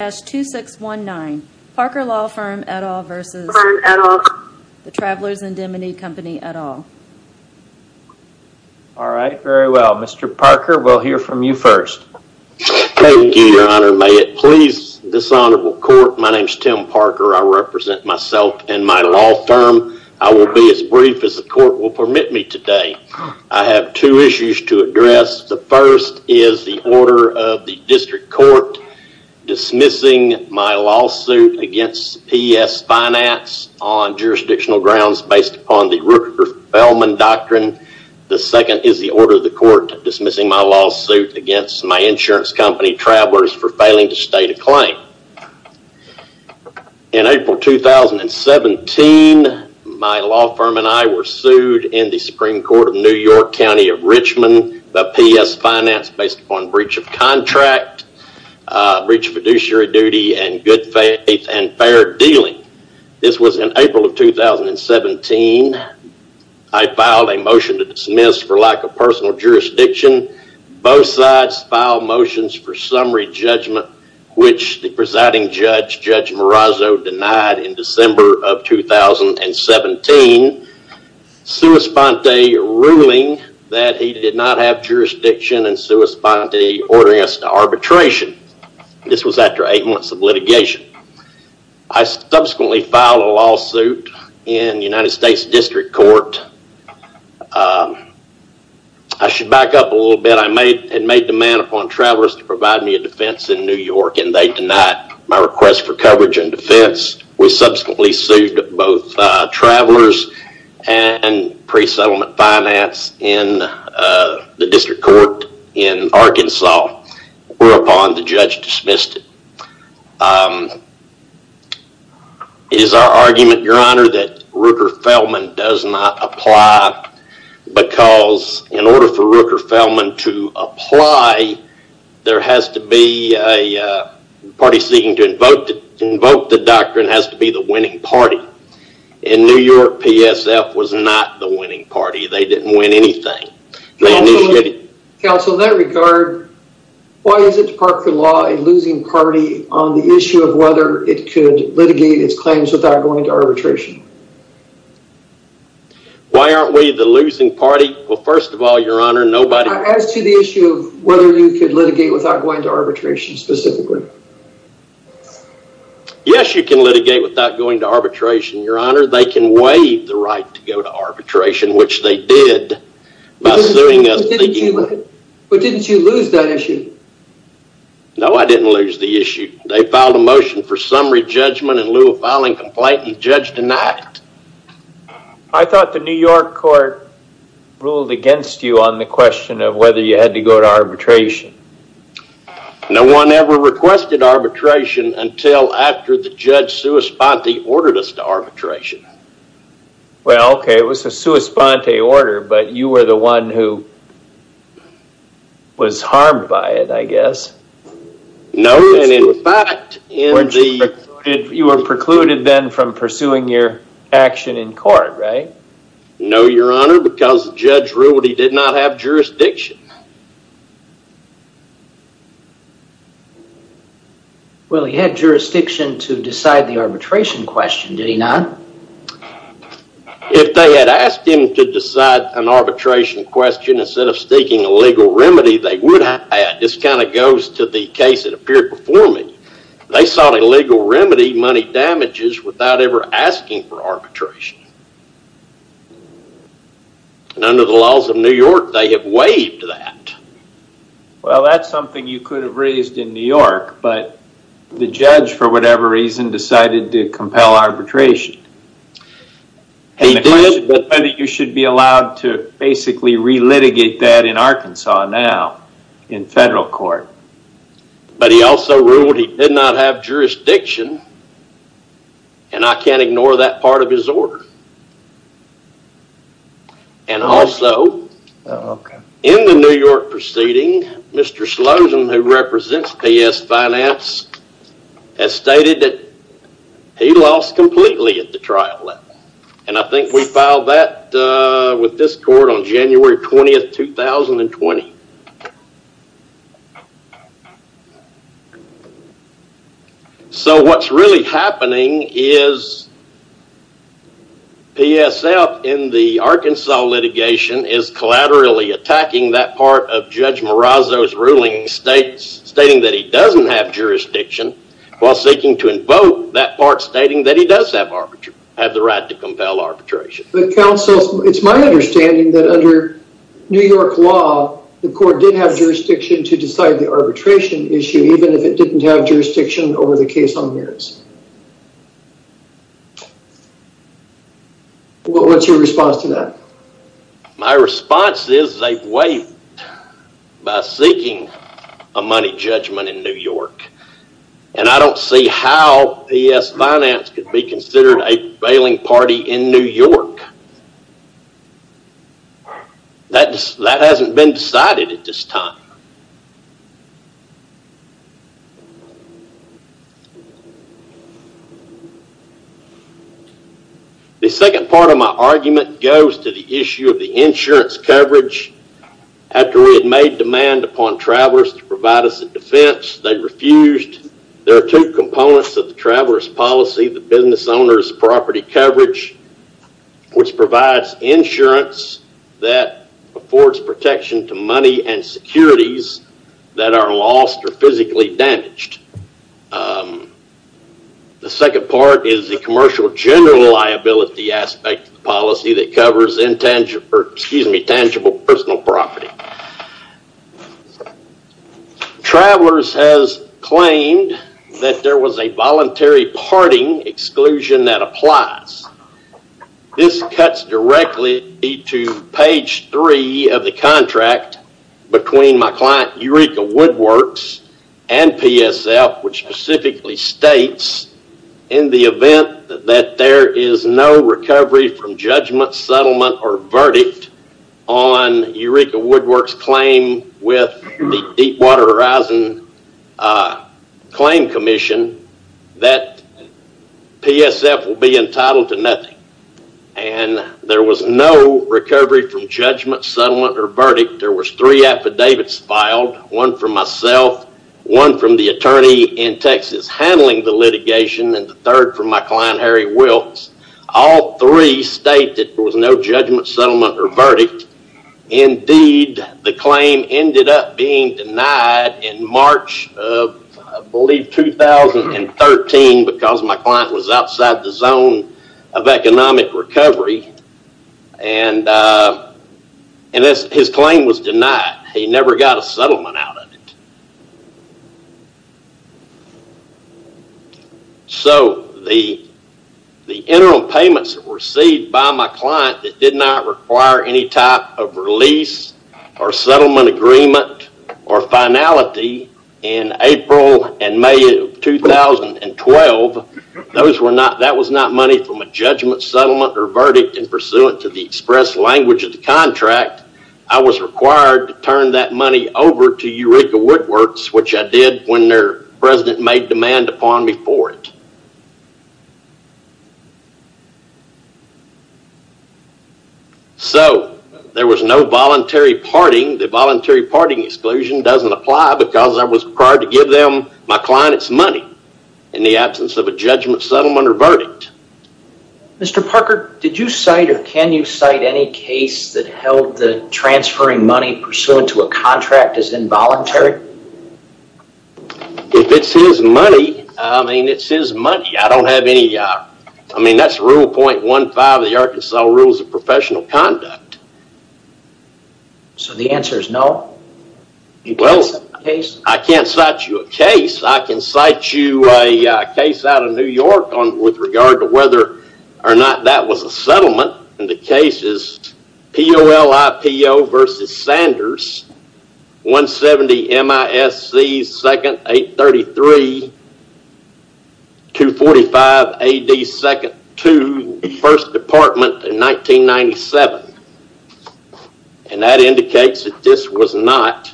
All right, very well. Mr. Parker, we'll hear from you first. Thank you, your honor. May it please this honorable court. My name is Tim Parker. I represent myself and my law firm. I will be as brief as the court will permit me today. I have two issues to address. The first is the order of the district court dismissing the my lawsuit against P.S. Finance on jurisdictional grounds based upon the Rupert Feldman Doctrine. The second is the order of the court dismissing my lawsuit against my insurance company, Travelers, for failing to state a claim. In April 2017, my law firm and I were sued in the Supreme Court of New York County of Richmond by P.S. Finance based upon breach of contract, breach of fiduciary duty, and breach of contract. breach of fiduciary duty and good faith and fair dealing. This was in April of 2017. I filed a motion to dismiss for lack of personal jurisdiction. Both sides filed motions for summary judgment, which the presiding judge, Judge Marazzo, denied in December of 2017. Suis Ponte ruling that he did not have jurisdiction and Suis Ponte ordering us to arbitration. This was after eight months of litigation. I subsequently filed a lawsuit in the United States District Court. I should back up a little bit. I had made demand upon Travelers to provide me a defense in New York and they denied my request for coverage and defense. We subsequently sued both Travelers and Pre-Settlement Finance in the District Court in Arkansas, whereupon the judge dismissed it. It is our argument, your honor, that Rooker-Feldman does not apply because in order for Rooker-Feldman to apply, there has to be a party seeking to invoke the doctrine has to be the winning party. In New York, PSF was not the winning party. They didn't win anything. Counsel, in that regard, why is the Department of Law a losing party on the issue of whether it could litigate its claims without going to arbitration? Why aren't we the losing party? Well, first of all, your honor, nobody... As to the issue of whether you could litigate without going to arbitration specifically. Yes, you can litigate without going to arbitration, your honor. They can waive the right to go to arbitration, which they did by suing us. But didn't you lose that issue? No, I didn't lose the issue. They filed a motion for summary judgment in lieu of filing complaint and judge denied. I thought the New York court ruled against you on the question of whether you had to go to arbitration. No one ever requested arbitration until after the judge sui sponte ordered us to arbitration. Well, okay, it was a sui sponte order, but you were the one who was harmed by it, I guess. No, and in fact, in the... You were precluded then from pursuing your action in court, right? No, your honor, because the judge ruled he did not have jurisdiction. Well, he had jurisdiction to decide the arbitration question, did he not? If they had asked him to decide an arbitration question instead of seeking a legal remedy, they would have. This kind of goes to the case that appeared before me. They sought a legal remedy, money damages, without ever asking for arbitration. And under the laws of New York, they have waived that. Well, that's something you could have raised in New York, but the judge, for whatever reason, decided to compel arbitration. He did. And the question was whether you should be allowed to basically re-litigate that in Arkansas now in federal court. But he also ruled he did not have jurisdiction, and I can't ignore that part of his order. And also, in the New York proceeding, Mr. Slauson, who represents PS Finance, has stated that he lost completely at the trial level. And I think we filed that with this court on January 20th, 2020. So what's really happening is PSF in the Arkansas litigation is collaterally attacking that part of Judge Marazzo's ruling, stating that he doesn't have jurisdiction, while seeking to invoke that part stating that he does have the right to compel arbitration. It's my understanding that under New York law, the court did have jurisdiction to decide the arbitration issue, even if it didn't have jurisdiction over the case on Marazzo. What's your response to that? My response is they've waived by seeking a money judgment in New York. And I don't see how PS Finance could be considered a bailing party in New York. That hasn't been decided at this time. The second part of my argument goes to the issue of the insurance coverage. After we had made demand upon travelers to provide us a defense, they refused. There are two components of the traveler's policy, the business owner's property coverage, which provides insurance that affords protection to money and securities that are lost or physically damaged. The second part is the commercial general liability aspect of the policy that covers tangible personal property. Travelers has claimed that there was a voluntary parting exclusion that applies. This cuts directly to page three of the contract between my client Eureka Woodworks and PSF, which specifically states in the event that there is no recovery from judgment, settlement, or verdict on Eureka Woodworks' claim with the Deepwater Horizon Claim Commission, that PSF will be entitled to nothing. There was no recovery from judgment, settlement, or verdict. There were three affidavits filed, one from myself, one from the attorney in Texas handling the litigation, and the third from my client Harry Wilkes. All three state that there was no judgment, settlement, or verdict. Indeed, the claim ended up being denied in March of, I believe, 2013, because my client was outside the zone of economic recovery, and his claim was denied. He never got a settlement out of it. So, the interim payments that were received by my client that did not require any type of release or settlement agreement or finality in April and May of 2012, that was not money from a judgment, settlement, or verdict in pursuant to the express language of the contract. I was required to turn that money over to Eureka Woodworks, which I did when their president made demand upon me for it. So, there was no voluntary parting. The voluntary parting exclusion doesn't apply because I was required to give them, my client, its money in the absence of a judgment, settlement, or verdict. Mr. Parker, did you cite or can you cite any case that held the transferring money pursuant to a contract as involuntary? If it's his money, I mean, it's his money. I don't have any, I mean, that's Rule .15 of the Arkansas Rules of Professional Conduct. So, the answer is no? Well, I can't cite you a case. I can cite you a case out of New York with regard to whether or not that was a settlement. And the case is P.O.L.I.P.O. v. Sanders, 170 M.I.S.C. 2nd 833, 245 A.D. 2nd 2, 1st Department in 1997. And that indicates that this was not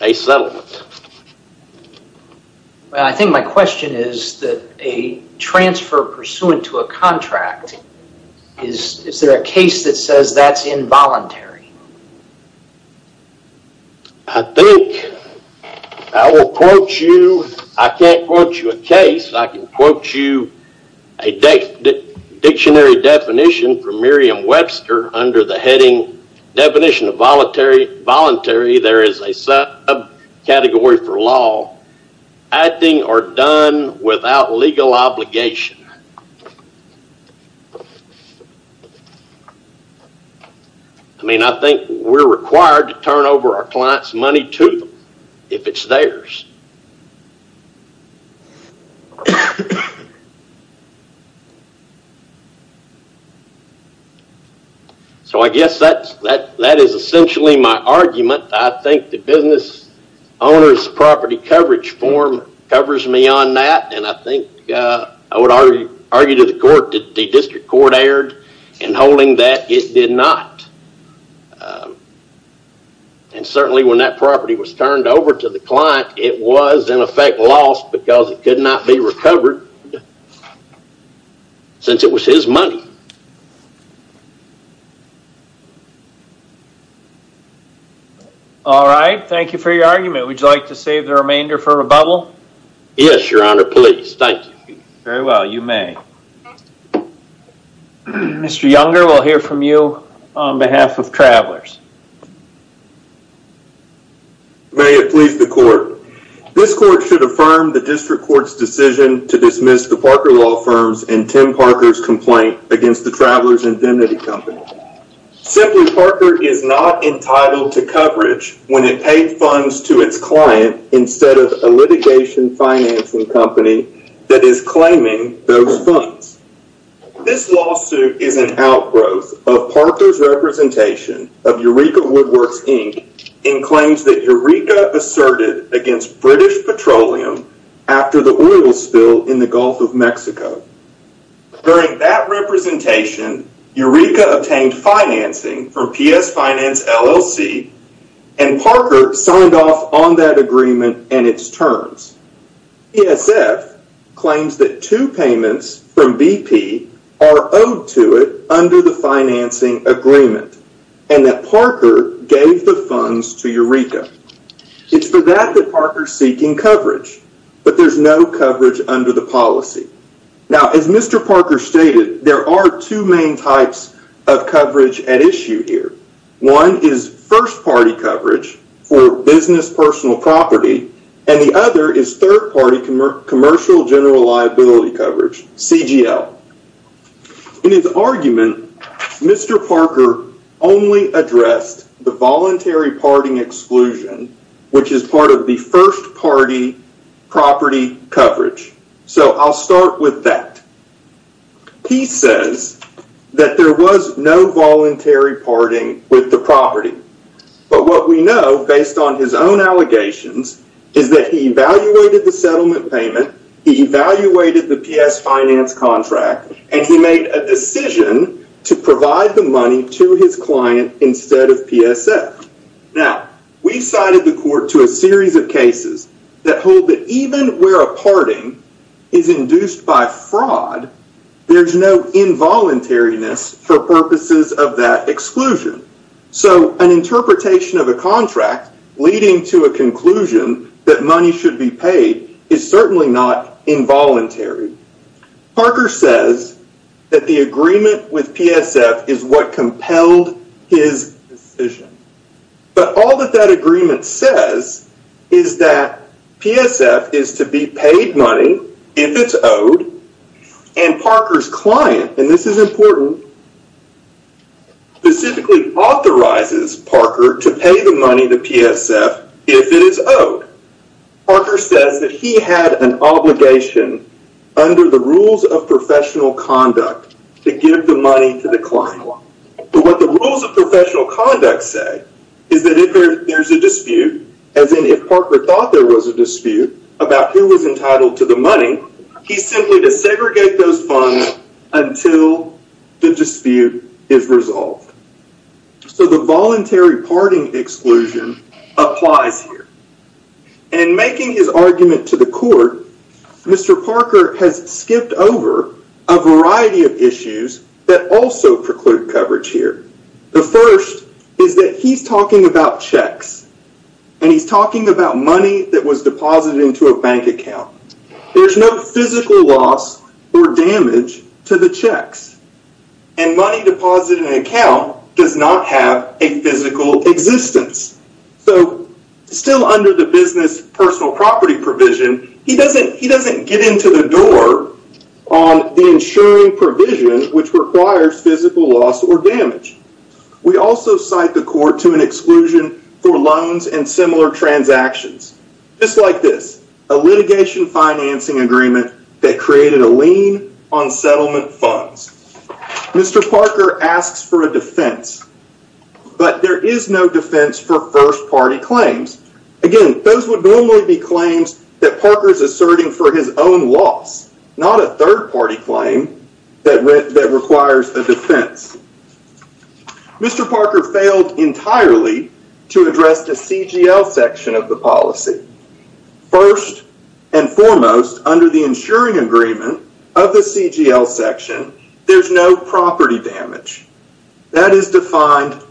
a settlement. Well, I think my question is that a transfer pursuant to a contract, is there a case that says that's involuntary? I think, I will quote you, I can't quote you a case, I can quote you a dictionary definition from Merriam-Webster under the heading, definition of voluntary, there is a subcategory for law, acting or done without legal obligation. I mean, I think we're required to turn over our client's money to them, if it's theirs. So, I guess that is essentially my argument. I think the business owner's property coverage form covers me on that. And I think I would argue to the court that the district court erred in holding that it did not. And certainly when that property was turned over to the client, it was, in effect, lost because it could not be recovered since it was his money. All right, thank you for your argument. Would you like to save the remainder for rebuttal? Yes, your honor, please. Thank you. Very well, you may. Mr. Younger, we'll hear from you on behalf of Travelers. May it please the court. This court should affirm the district court's decision to dismiss the Parker Law Firm's and Tim Parker's complaint against the Travelers Identity Company. Simply, Parker is not entitled to coverage when it paid funds to its client instead of a litigation financing company that is claiming those funds. This lawsuit is an outgrowth of Parker's representation of Eureka Woodworks, Inc. in claims that Eureka asserted against British Petroleum after the oil spill in the Gulf of Mexico. During that representation, Eureka obtained financing from PS Finance, LLC, and Parker signed off on that agreement and its terms. PSF claims that two payments from BP are owed to it under the financing agreement and that Parker gave the funds to Eureka. It's for that that Parker's seeking coverage, but there's no coverage under the policy. Now, as Mr. Parker stated, there are two main types of coverage at issue here. One is first-party coverage for business personal property, and the other is third-party commercial general liability coverage, CGL. In his argument, Mr. Parker only addressed the voluntary parting exclusion, which is part of the first-party property coverage. I'll start with that. He says that there was no voluntary parting with the property, but what we know, based on his own allegations, is that he evaluated the settlement payment, he evaluated the PS Finance contract, and he made a decision to provide the money to his client instead of PSF. Now, we cited the court to a series of cases that hold that even where a parting is induced by fraud, there's no involuntariness for purposes of that exclusion. So an interpretation of a contract leading to a conclusion that money should be paid is certainly not involuntary. Parker says that the agreement with PSF is what compelled his decision. But all that that agreement says is that PSF is to be paid money if it's owed, and Parker's client, and this is important, specifically authorizes Parker to pay the money to PSF if it is owed. Parker says that he had an obligation under the rules of professional conduct to give the money to the client. But what the rules of professional conduct say is that if there's a dispute, as in if Parker thought there was a dispute about who was entitled to the money, he's simply to segregate those funds until the dispute is resolved. So the voluntary parting exclusion applies here. In making his argument to the court, Mr. Parker has skipped over a variety of issues that also preclude coverage here. The first is that he's talking about checks, and he's talking about money that was deposited into a bank account. There's no physical loss or damage to the checks, and money deposited in an account does not have a physical existence. So still under the business personal property provision, he doesn't get into the door on the insuring provision, which requires physical loss or damage. We also cite the court to an exclusion for loans and similar transactions. Just like this, a litigation financing agreement that created a lien on settlement funds. Mr. Parker asks for a defense, but there is no defense for first-party claims. Again, those would normally be claims that Parker's asserting for his own loss, not a third-party claim that requires a defense. Mr. Parker failed entirely to address the CGL section of the policy. First and foremost, under the insuring agreement of the CGL section, there's no property damage. That is defined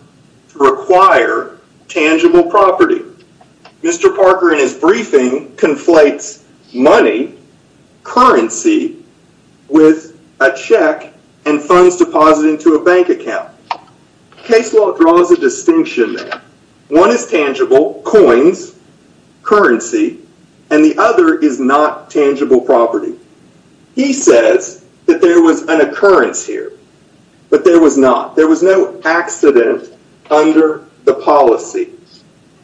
to require tangible property. Mr. Parker, in his briefing, conflates money, currency, with a check and funds deposited into a bank account. Case law draws a distinction there. One is tangible, coins, currency, and the other is not tangible property. He says that there was an occurrence here, but there was not. There was no accident under the policy,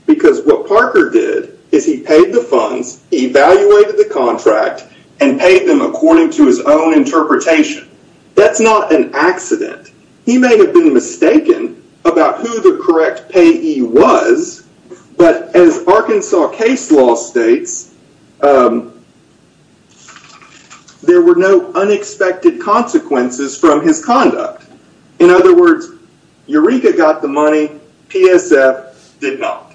because what Parker did is he paid the funds, evaluated the contract, and paid them according to his own interpretation. That's not an accident. He may have been mistaken about who the correct payee was, but as Arkansas case law states, there were no unexpected consequences from his conduct. In other words, Eureka got the money, PSF did not.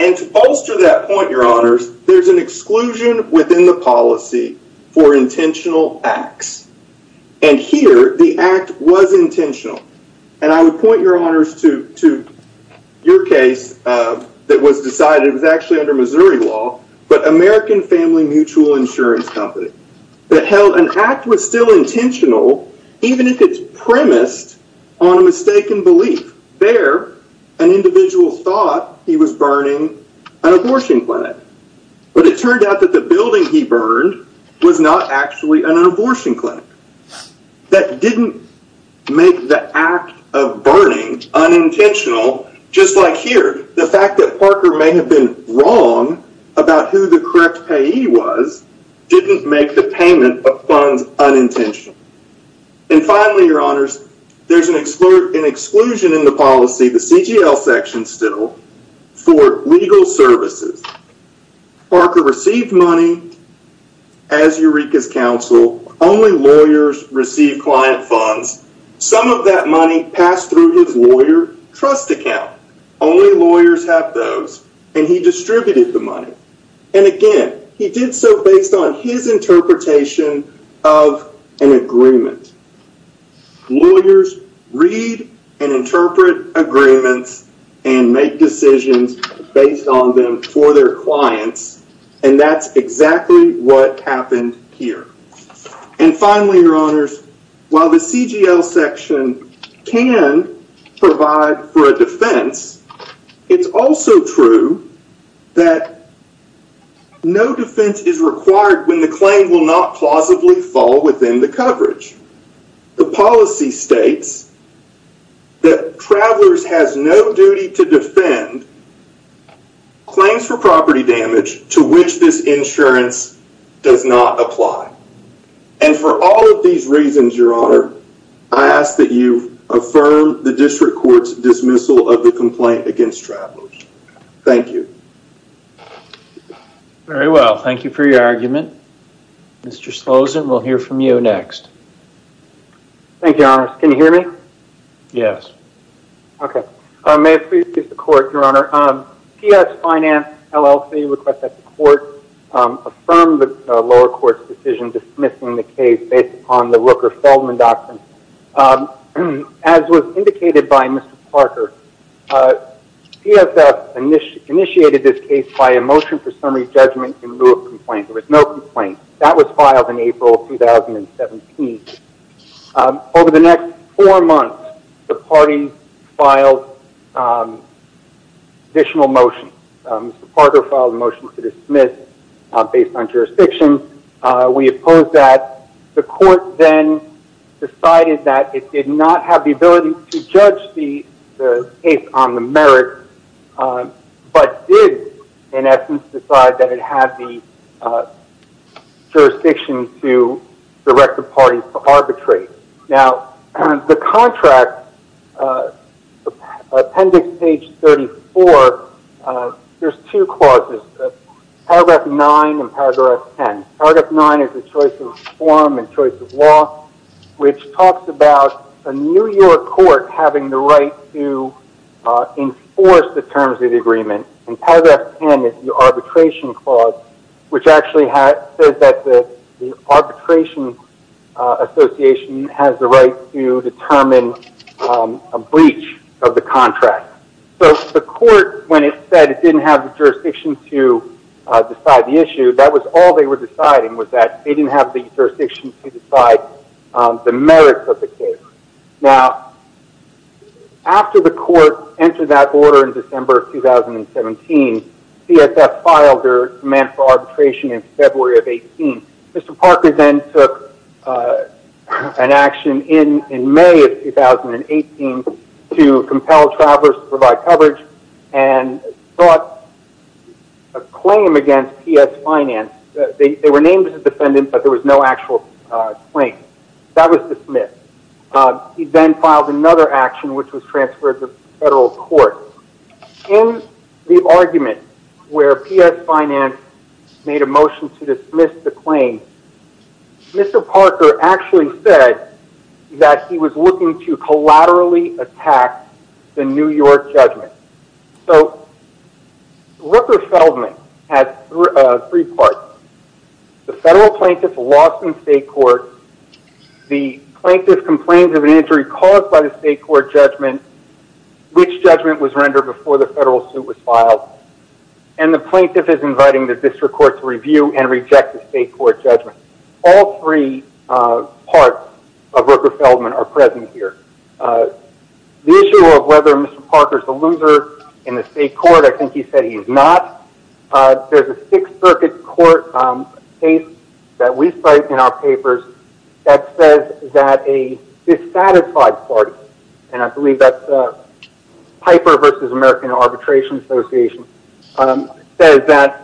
And to bolster that point, your honors, there's an exclusion within the policy for intentional acts. And here, the act was intentional. And I would point your honors to your case that was decided, it was actually under Missouri law, but American Family Mutual Insurance Company, that held an act was still intentional, even if it's premised on a mistaken belief. There, an individual thought he was burning an abortion clinic. But it turned out that the building he burned was not actually an abortion clinic. That didn't make the act of burning unintentional, just like here. The fact that Parker may have been wrong about who the correct payee was, didn't make the payment of funds unintentional. And finally, your honors, there's an exclusion in the policy, the CGL section still, for legal services. Parker received money as Eureka's counsel. Only lawyers receive client funds. Some of that money passed through his lawyer trust account. Only lawyers have those, and he distributed the money. And again, he did so based on his interpretation of an agreement. Lawyers read and interpret agreements and make decisions based on them for their clients. And that's exactly what happened here. And finally, your honors, while the CGL section can provide for a defense, it's also true that no defense is required when the claim will not plausibly fall within the coverage. The policy states that travelers has no duty to defend claims for property damage to which this insurance does not apply. And for all of these reasons, your honor, I ask that you affirm the district court's dismissal of the complaint against travelers. Thank you. Very well. Thank you for your argument. Mr. Slosen, we'll hear from you next. Thank you, your honors. Can you hear me? Yes. Okay. May it please the court, your honor. P.S. Finance LLC requests that the court affirm the lower court's decision dismissing the case based upon the Rooker-Feldman doctrine. As was indicated by Mr. Parker, P.S.F. initiated this case by a motion for summary judgment in lieu of complaint. There was no complaint. That was filed in April 2017. Over the next four months, the party filed additional motions. Mr. Parker filed a motion to dismiss based on jurisdiction. We oppose that. The court then decided that it did not have the ability to judge the case on the merit, but did, in essence, decide that it had the jurisdiction to direct the parties to arbitrate. Now, the contract, appendix page 34, there's two clauses, paragraph 9 and paragraph 10. Paragraph 9 is the choice of form and choice of law, which talks about a New York court having the right to enforce the terms of the agreement. And paragraph 10 is the arbitration clause, which actually says that the arbitration association has the right to determine a breach of the contract. So the court, when it said it didn't have the jurisdiction to decide the issue, that was all they were deciding was that they didn't have the jurisdiction to decide the merits of the case. Now, after the court entered that order in December 2017, P.S.F. filed their demand for arbitration in February of 18. Mr. Parker then took an action in May of 2018 to compel travelers to provide coverage and sought a claim against P.S. Finance. They were named as a defendant, but there was no actual claim. That was dismissed. He then filed another action, which was transferred to federal court. In the argument where P.S. Finance made a motion to dismiss the claim, Mr. Parker actually said that he was looking to collaterally attack the New York judgment. So Rooker-Feldman had three parts. The federal plaintiff lost in state court. The plaintiff complained of an injury caused by the state court judgment, which judgment was rendered before the federal suit was filed. And the plaintiff is inviting the district court to review and reject the state court judgment. All three parts of Rooker-Feldman are present here. The issue of whether Mr. Parker is a loser in the state court, I think he said he's not. There's a Sixth Circuit court case that we cite in our papers that says that a dissatisfied party, and I believe that's Piper v. American Arbitration Association, says that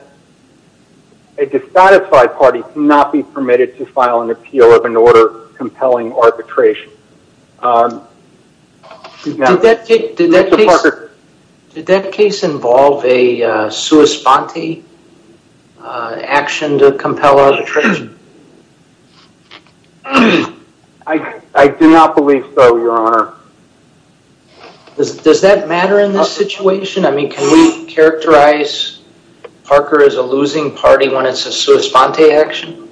a dissatisfied party cannot be permitted to file an appeal of an order compelling arbitration. Did that case involve a sua sponte action to compel arbitration? I do not believe so, Your Honor. Does that matter in this situation? I mean, can we characterize Parker as a losing party when it's a sua sponte action?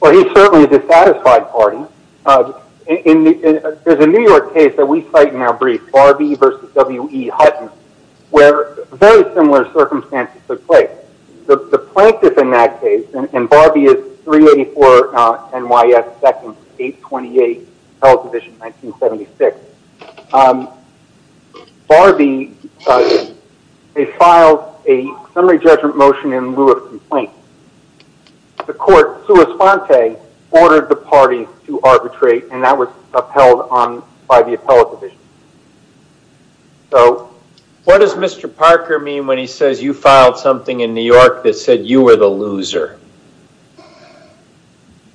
Well, he's certainly a dissatisfied party. There's a New York case that we cite in our brief, Barbie v. W.E. Hutton, where very similar circumstances took place. The plaintiff in that case, and Barbie is 384 N.Y.S. 2nd, 828, Appellate Division, 1976. Barbie, they filed a summary judgment motion in lieu of complaint. The court, sua sponte, ordered the party to arbitrate, and that was upheld by the Appellate Division. So, what does Mr. Parker mean when he says you filed something in New York that said you were the loser?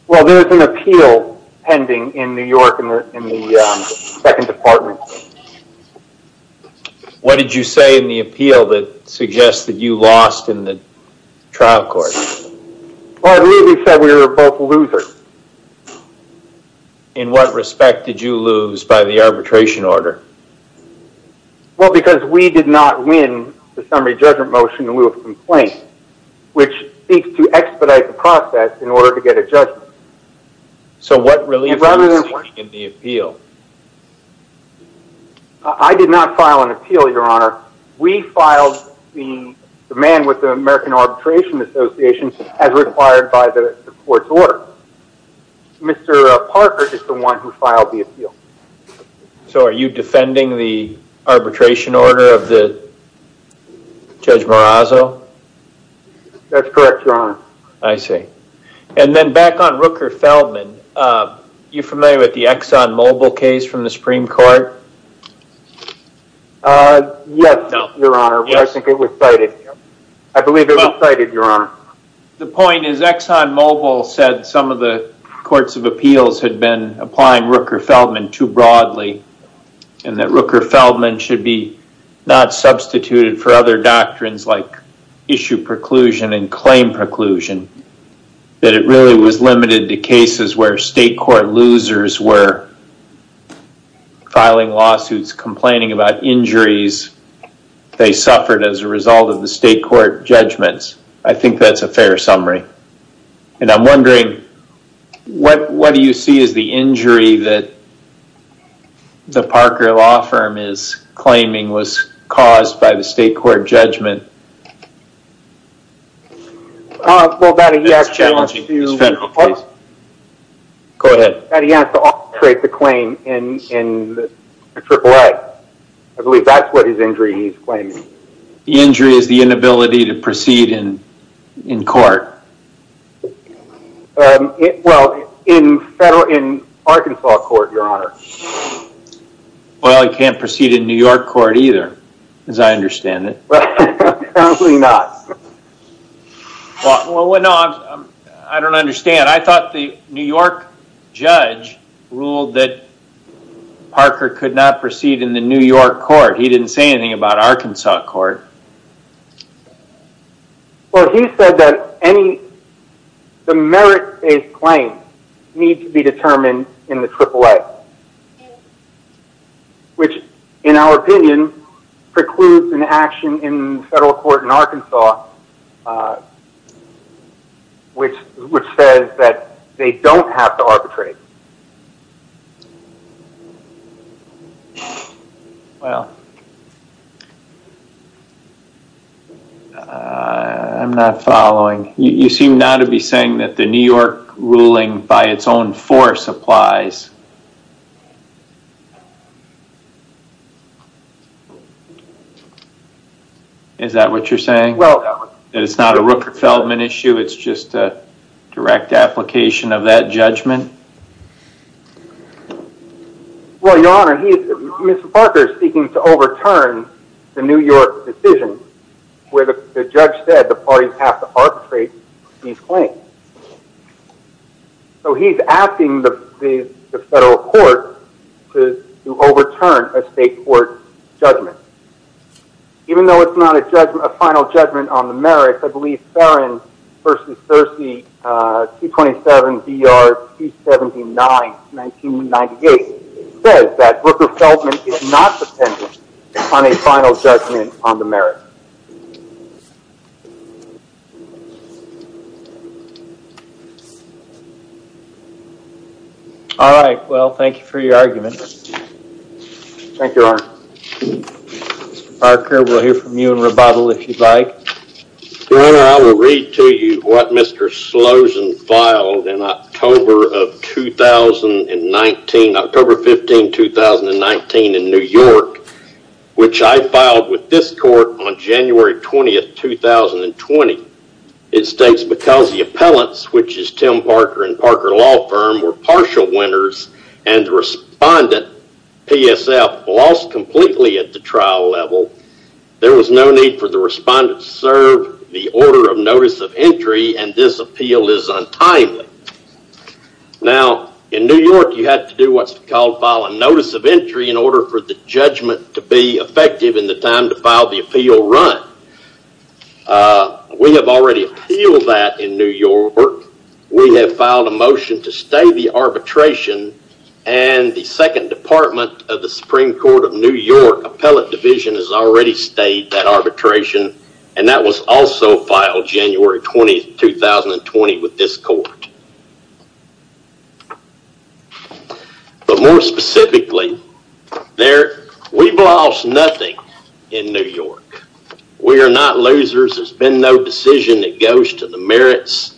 Well, there's an appeal pending in New York in the 2nd Department. What did you say in the appeal that suggests that you lost in the trial court? Well, I believe he said we were both losers. In what respect did you lose by the arbitration order? Well, because we did not win the summary judgment motion in lieu of complaint, which seeks to expedite the process in order to get a judgment. So, what really is lost in the appeal? I did not file an appeal, Your Honor. We filed the man with the American Arbitration Association as required by the court's order. Mr. Parker is the one who filed the appeal. So, are you defending the arbitration order of Judge Marazzo? That's correct, Your Honor. I see. And then back on Rooker-Feldman, are you familiar with the Exxon Mobil case from the Supreme Court? Yes, Your Honor, but I think it was cited. I believe it was cited, Your Honor. The point is Exxon Mobil said some of the courts of appeals had been applying Rooker-Feldman too broadly, and that Rooker-Feldman should be not substituted for other doctrines like issue preclusion and claim preclusion, that it really was limited to cases where state court losers were filing lawsuits complaining about injuries they suffered as a result of the state court judgments. I think that's a fair summary. And I'm wondering, what do you see as the injury that the Parker Law Firm is claiming was caused by the state court judgment? That's challenging. It's a federal case. Go ahead. That he has to orchestrate the claim in the AAA. I believe that's what his injury he's claiming. The injury is the inability to proceed in court. Well, in Arkansas court, Your Honor. Well, he can't proceed in New York court either, as I understand it. Probably not. I don't understand. I thought the New York judge ruled that Parker could not proceed in the New York court. He didn't say anything about Arkansas court. Well, he said that the merit-based claims need to be determined in the AAA, which, in our opinion, precludes an action in federal court in Arkansas, which says that they don't have to arbitrate. Well. I'm not following. You seem now to be saying that the New York ruling by its own force applies. Is that what you're saying? Well. That it's not a Rooker-Feldman issue, it's just a direct application of that judgment? Well, Your Honor, Mr. Parker is speaking to overturn the New York decision where the judge said the parties have to arbitrate these claims. So he's asking the federal court to overturn a state court judgment. Even though it's not a final judgment on the merits, I believe Farron v. Searcy, 227 B.R. 279, 1998, says that Rooker-Feldman is not dependent on a final judgment on the merits. All right. Well, thank you for your argument. Thank you, Your Honor. Mr. Parker, we'll hear from you in rebuttal if you'd like. Your Honor, I will read to you what Mr. Slozen filed in October of 2019, October 15, 2019, in New York, which I filed with this court on January 20, 2020. It states, because the appellants, which is Tim Parker and Parker Law Firm, were partial winners and the respondent, PSF, lost completely at the trial level, there was no need for the respondent to serve the order of notice of entry, and this appeal is untimely. Now, in New York, you have to do what's called file a notice of entry in order for the judgment to be effective in the time to file the appeal run. We have already appealed that in New York. We have filed a motion to stay the arbitration, and the Second Department of the Supreme Court of New York Appellate Division has already stayed that arbitration, and that was also filed January 20, 2020, with this court. But more specifically, we've lost nothing in New York. We are not losers. There's been no decision that goes to the merits,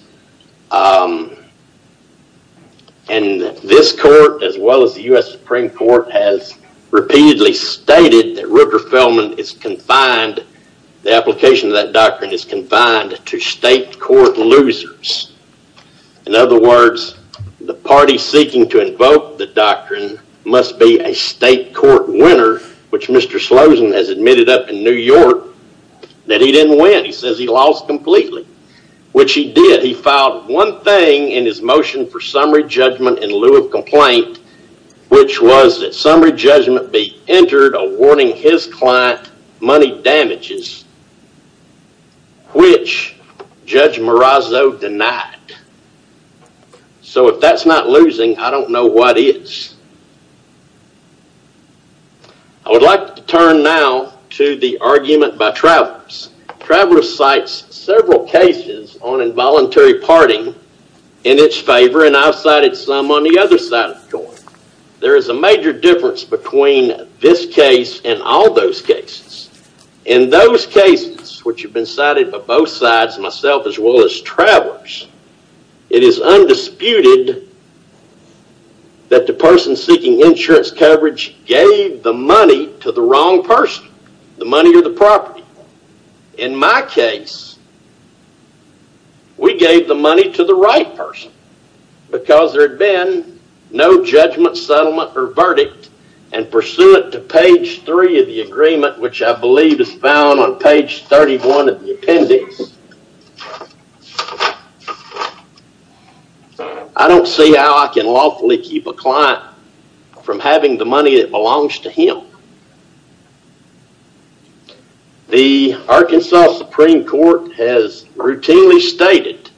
and this court, as well as the U.S. Supreme Court, has repeatedly stated that Rupert Feldman is confined, the application of that doctrine is confined to state court losers. In other words, the party seeking to invoke the doctrine must be a state court winner, which Mr. Slosen has admitted up in New York that he didn't win. He says he lost completely, which he did. He filed one thing in his motion for summary judgment in lieu of complaint, which was that summary judgment be entered awarding his client money damages, which Judge Marazzo denied. So if that's not losing, I don't know what is. I would like to turn now to the argument by travelers. Traveler cites several cases on involuntary parting in its favor, and I've cited some on the other side of the court. There is a major difference between this case and all those cases. In those cases, which have been cited by both sides, myself as well as travelers, it is undisputed that the person seeking insurance coverage in my case, we gave the money to the right person because there had been no judgment, settlement, or verdict, and pursuant to page three of the agreement, which I believe is found on page 31 of the appendix, I don't see how I can lawfully keep a client from having the money that belongs to him. The Arkansas Supreme Court has routinely stated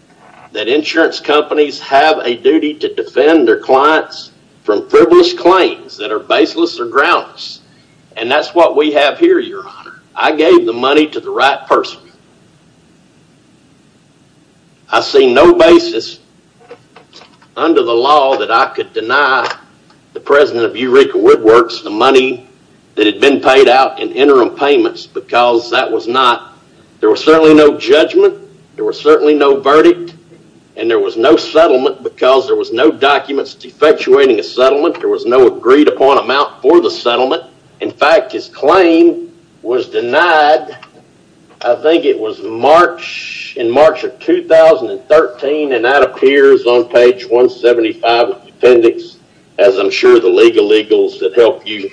that insurance companies have a duty to defend their clients from frivolous claims that are baseless or groundless, and that's what we have here, Your Honor. I gave the money to the right person. I see no basis under the law that I could deny the president of Eureka Woodworks the money that had been paid out in interim payments because there was certainly no judgment, there was certainly no verdict, and there was no settlement because there was no documents defectuating a settlement. There was no agreed-upon amount for the settlement. In fact, his claim was denied, I think it was in March of 2013, and that appears on page 175 of the appendix, as I'm sure the legal eagles that help you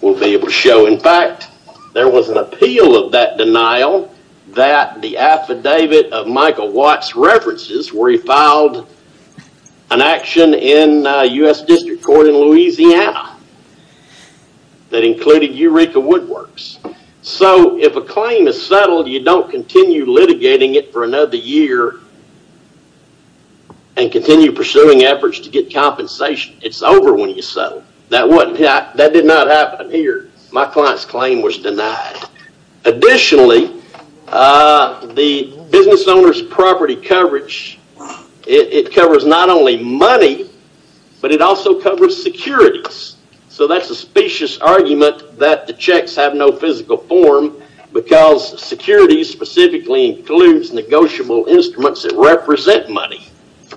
will be able to show. In fact, there was an appeal of that denial that the affidavit of Michael Watts references where he filed an action in U.S. District Court in Louisiana that included Eureka Woodworks. So, if a claim is settled, you don't continue litigating it for another year and continue pursuing efforts to get compensation. It's over when you settle. That did not happen here. My client's claim was denied. Additionally, the business owner's property coverage, it covers not only money, but it also covers securities. So, that's a specious argument that the checks have no physical form because securities specifically includes negotiable instruments that represent money.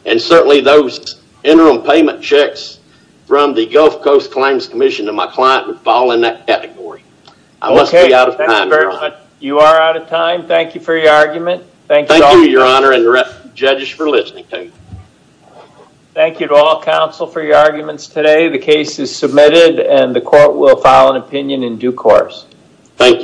And certainly, those interim payment checks from the Gulf Coast Claims Commission to my client would fall in that category. I must be out of time. You are out of time. Thank you for your argument. Thank you, Your Honor, and the judges for listening. Thank you to all counsel for your arguments today. The case is submitted, and the court will file an opinion in due course. Thank you.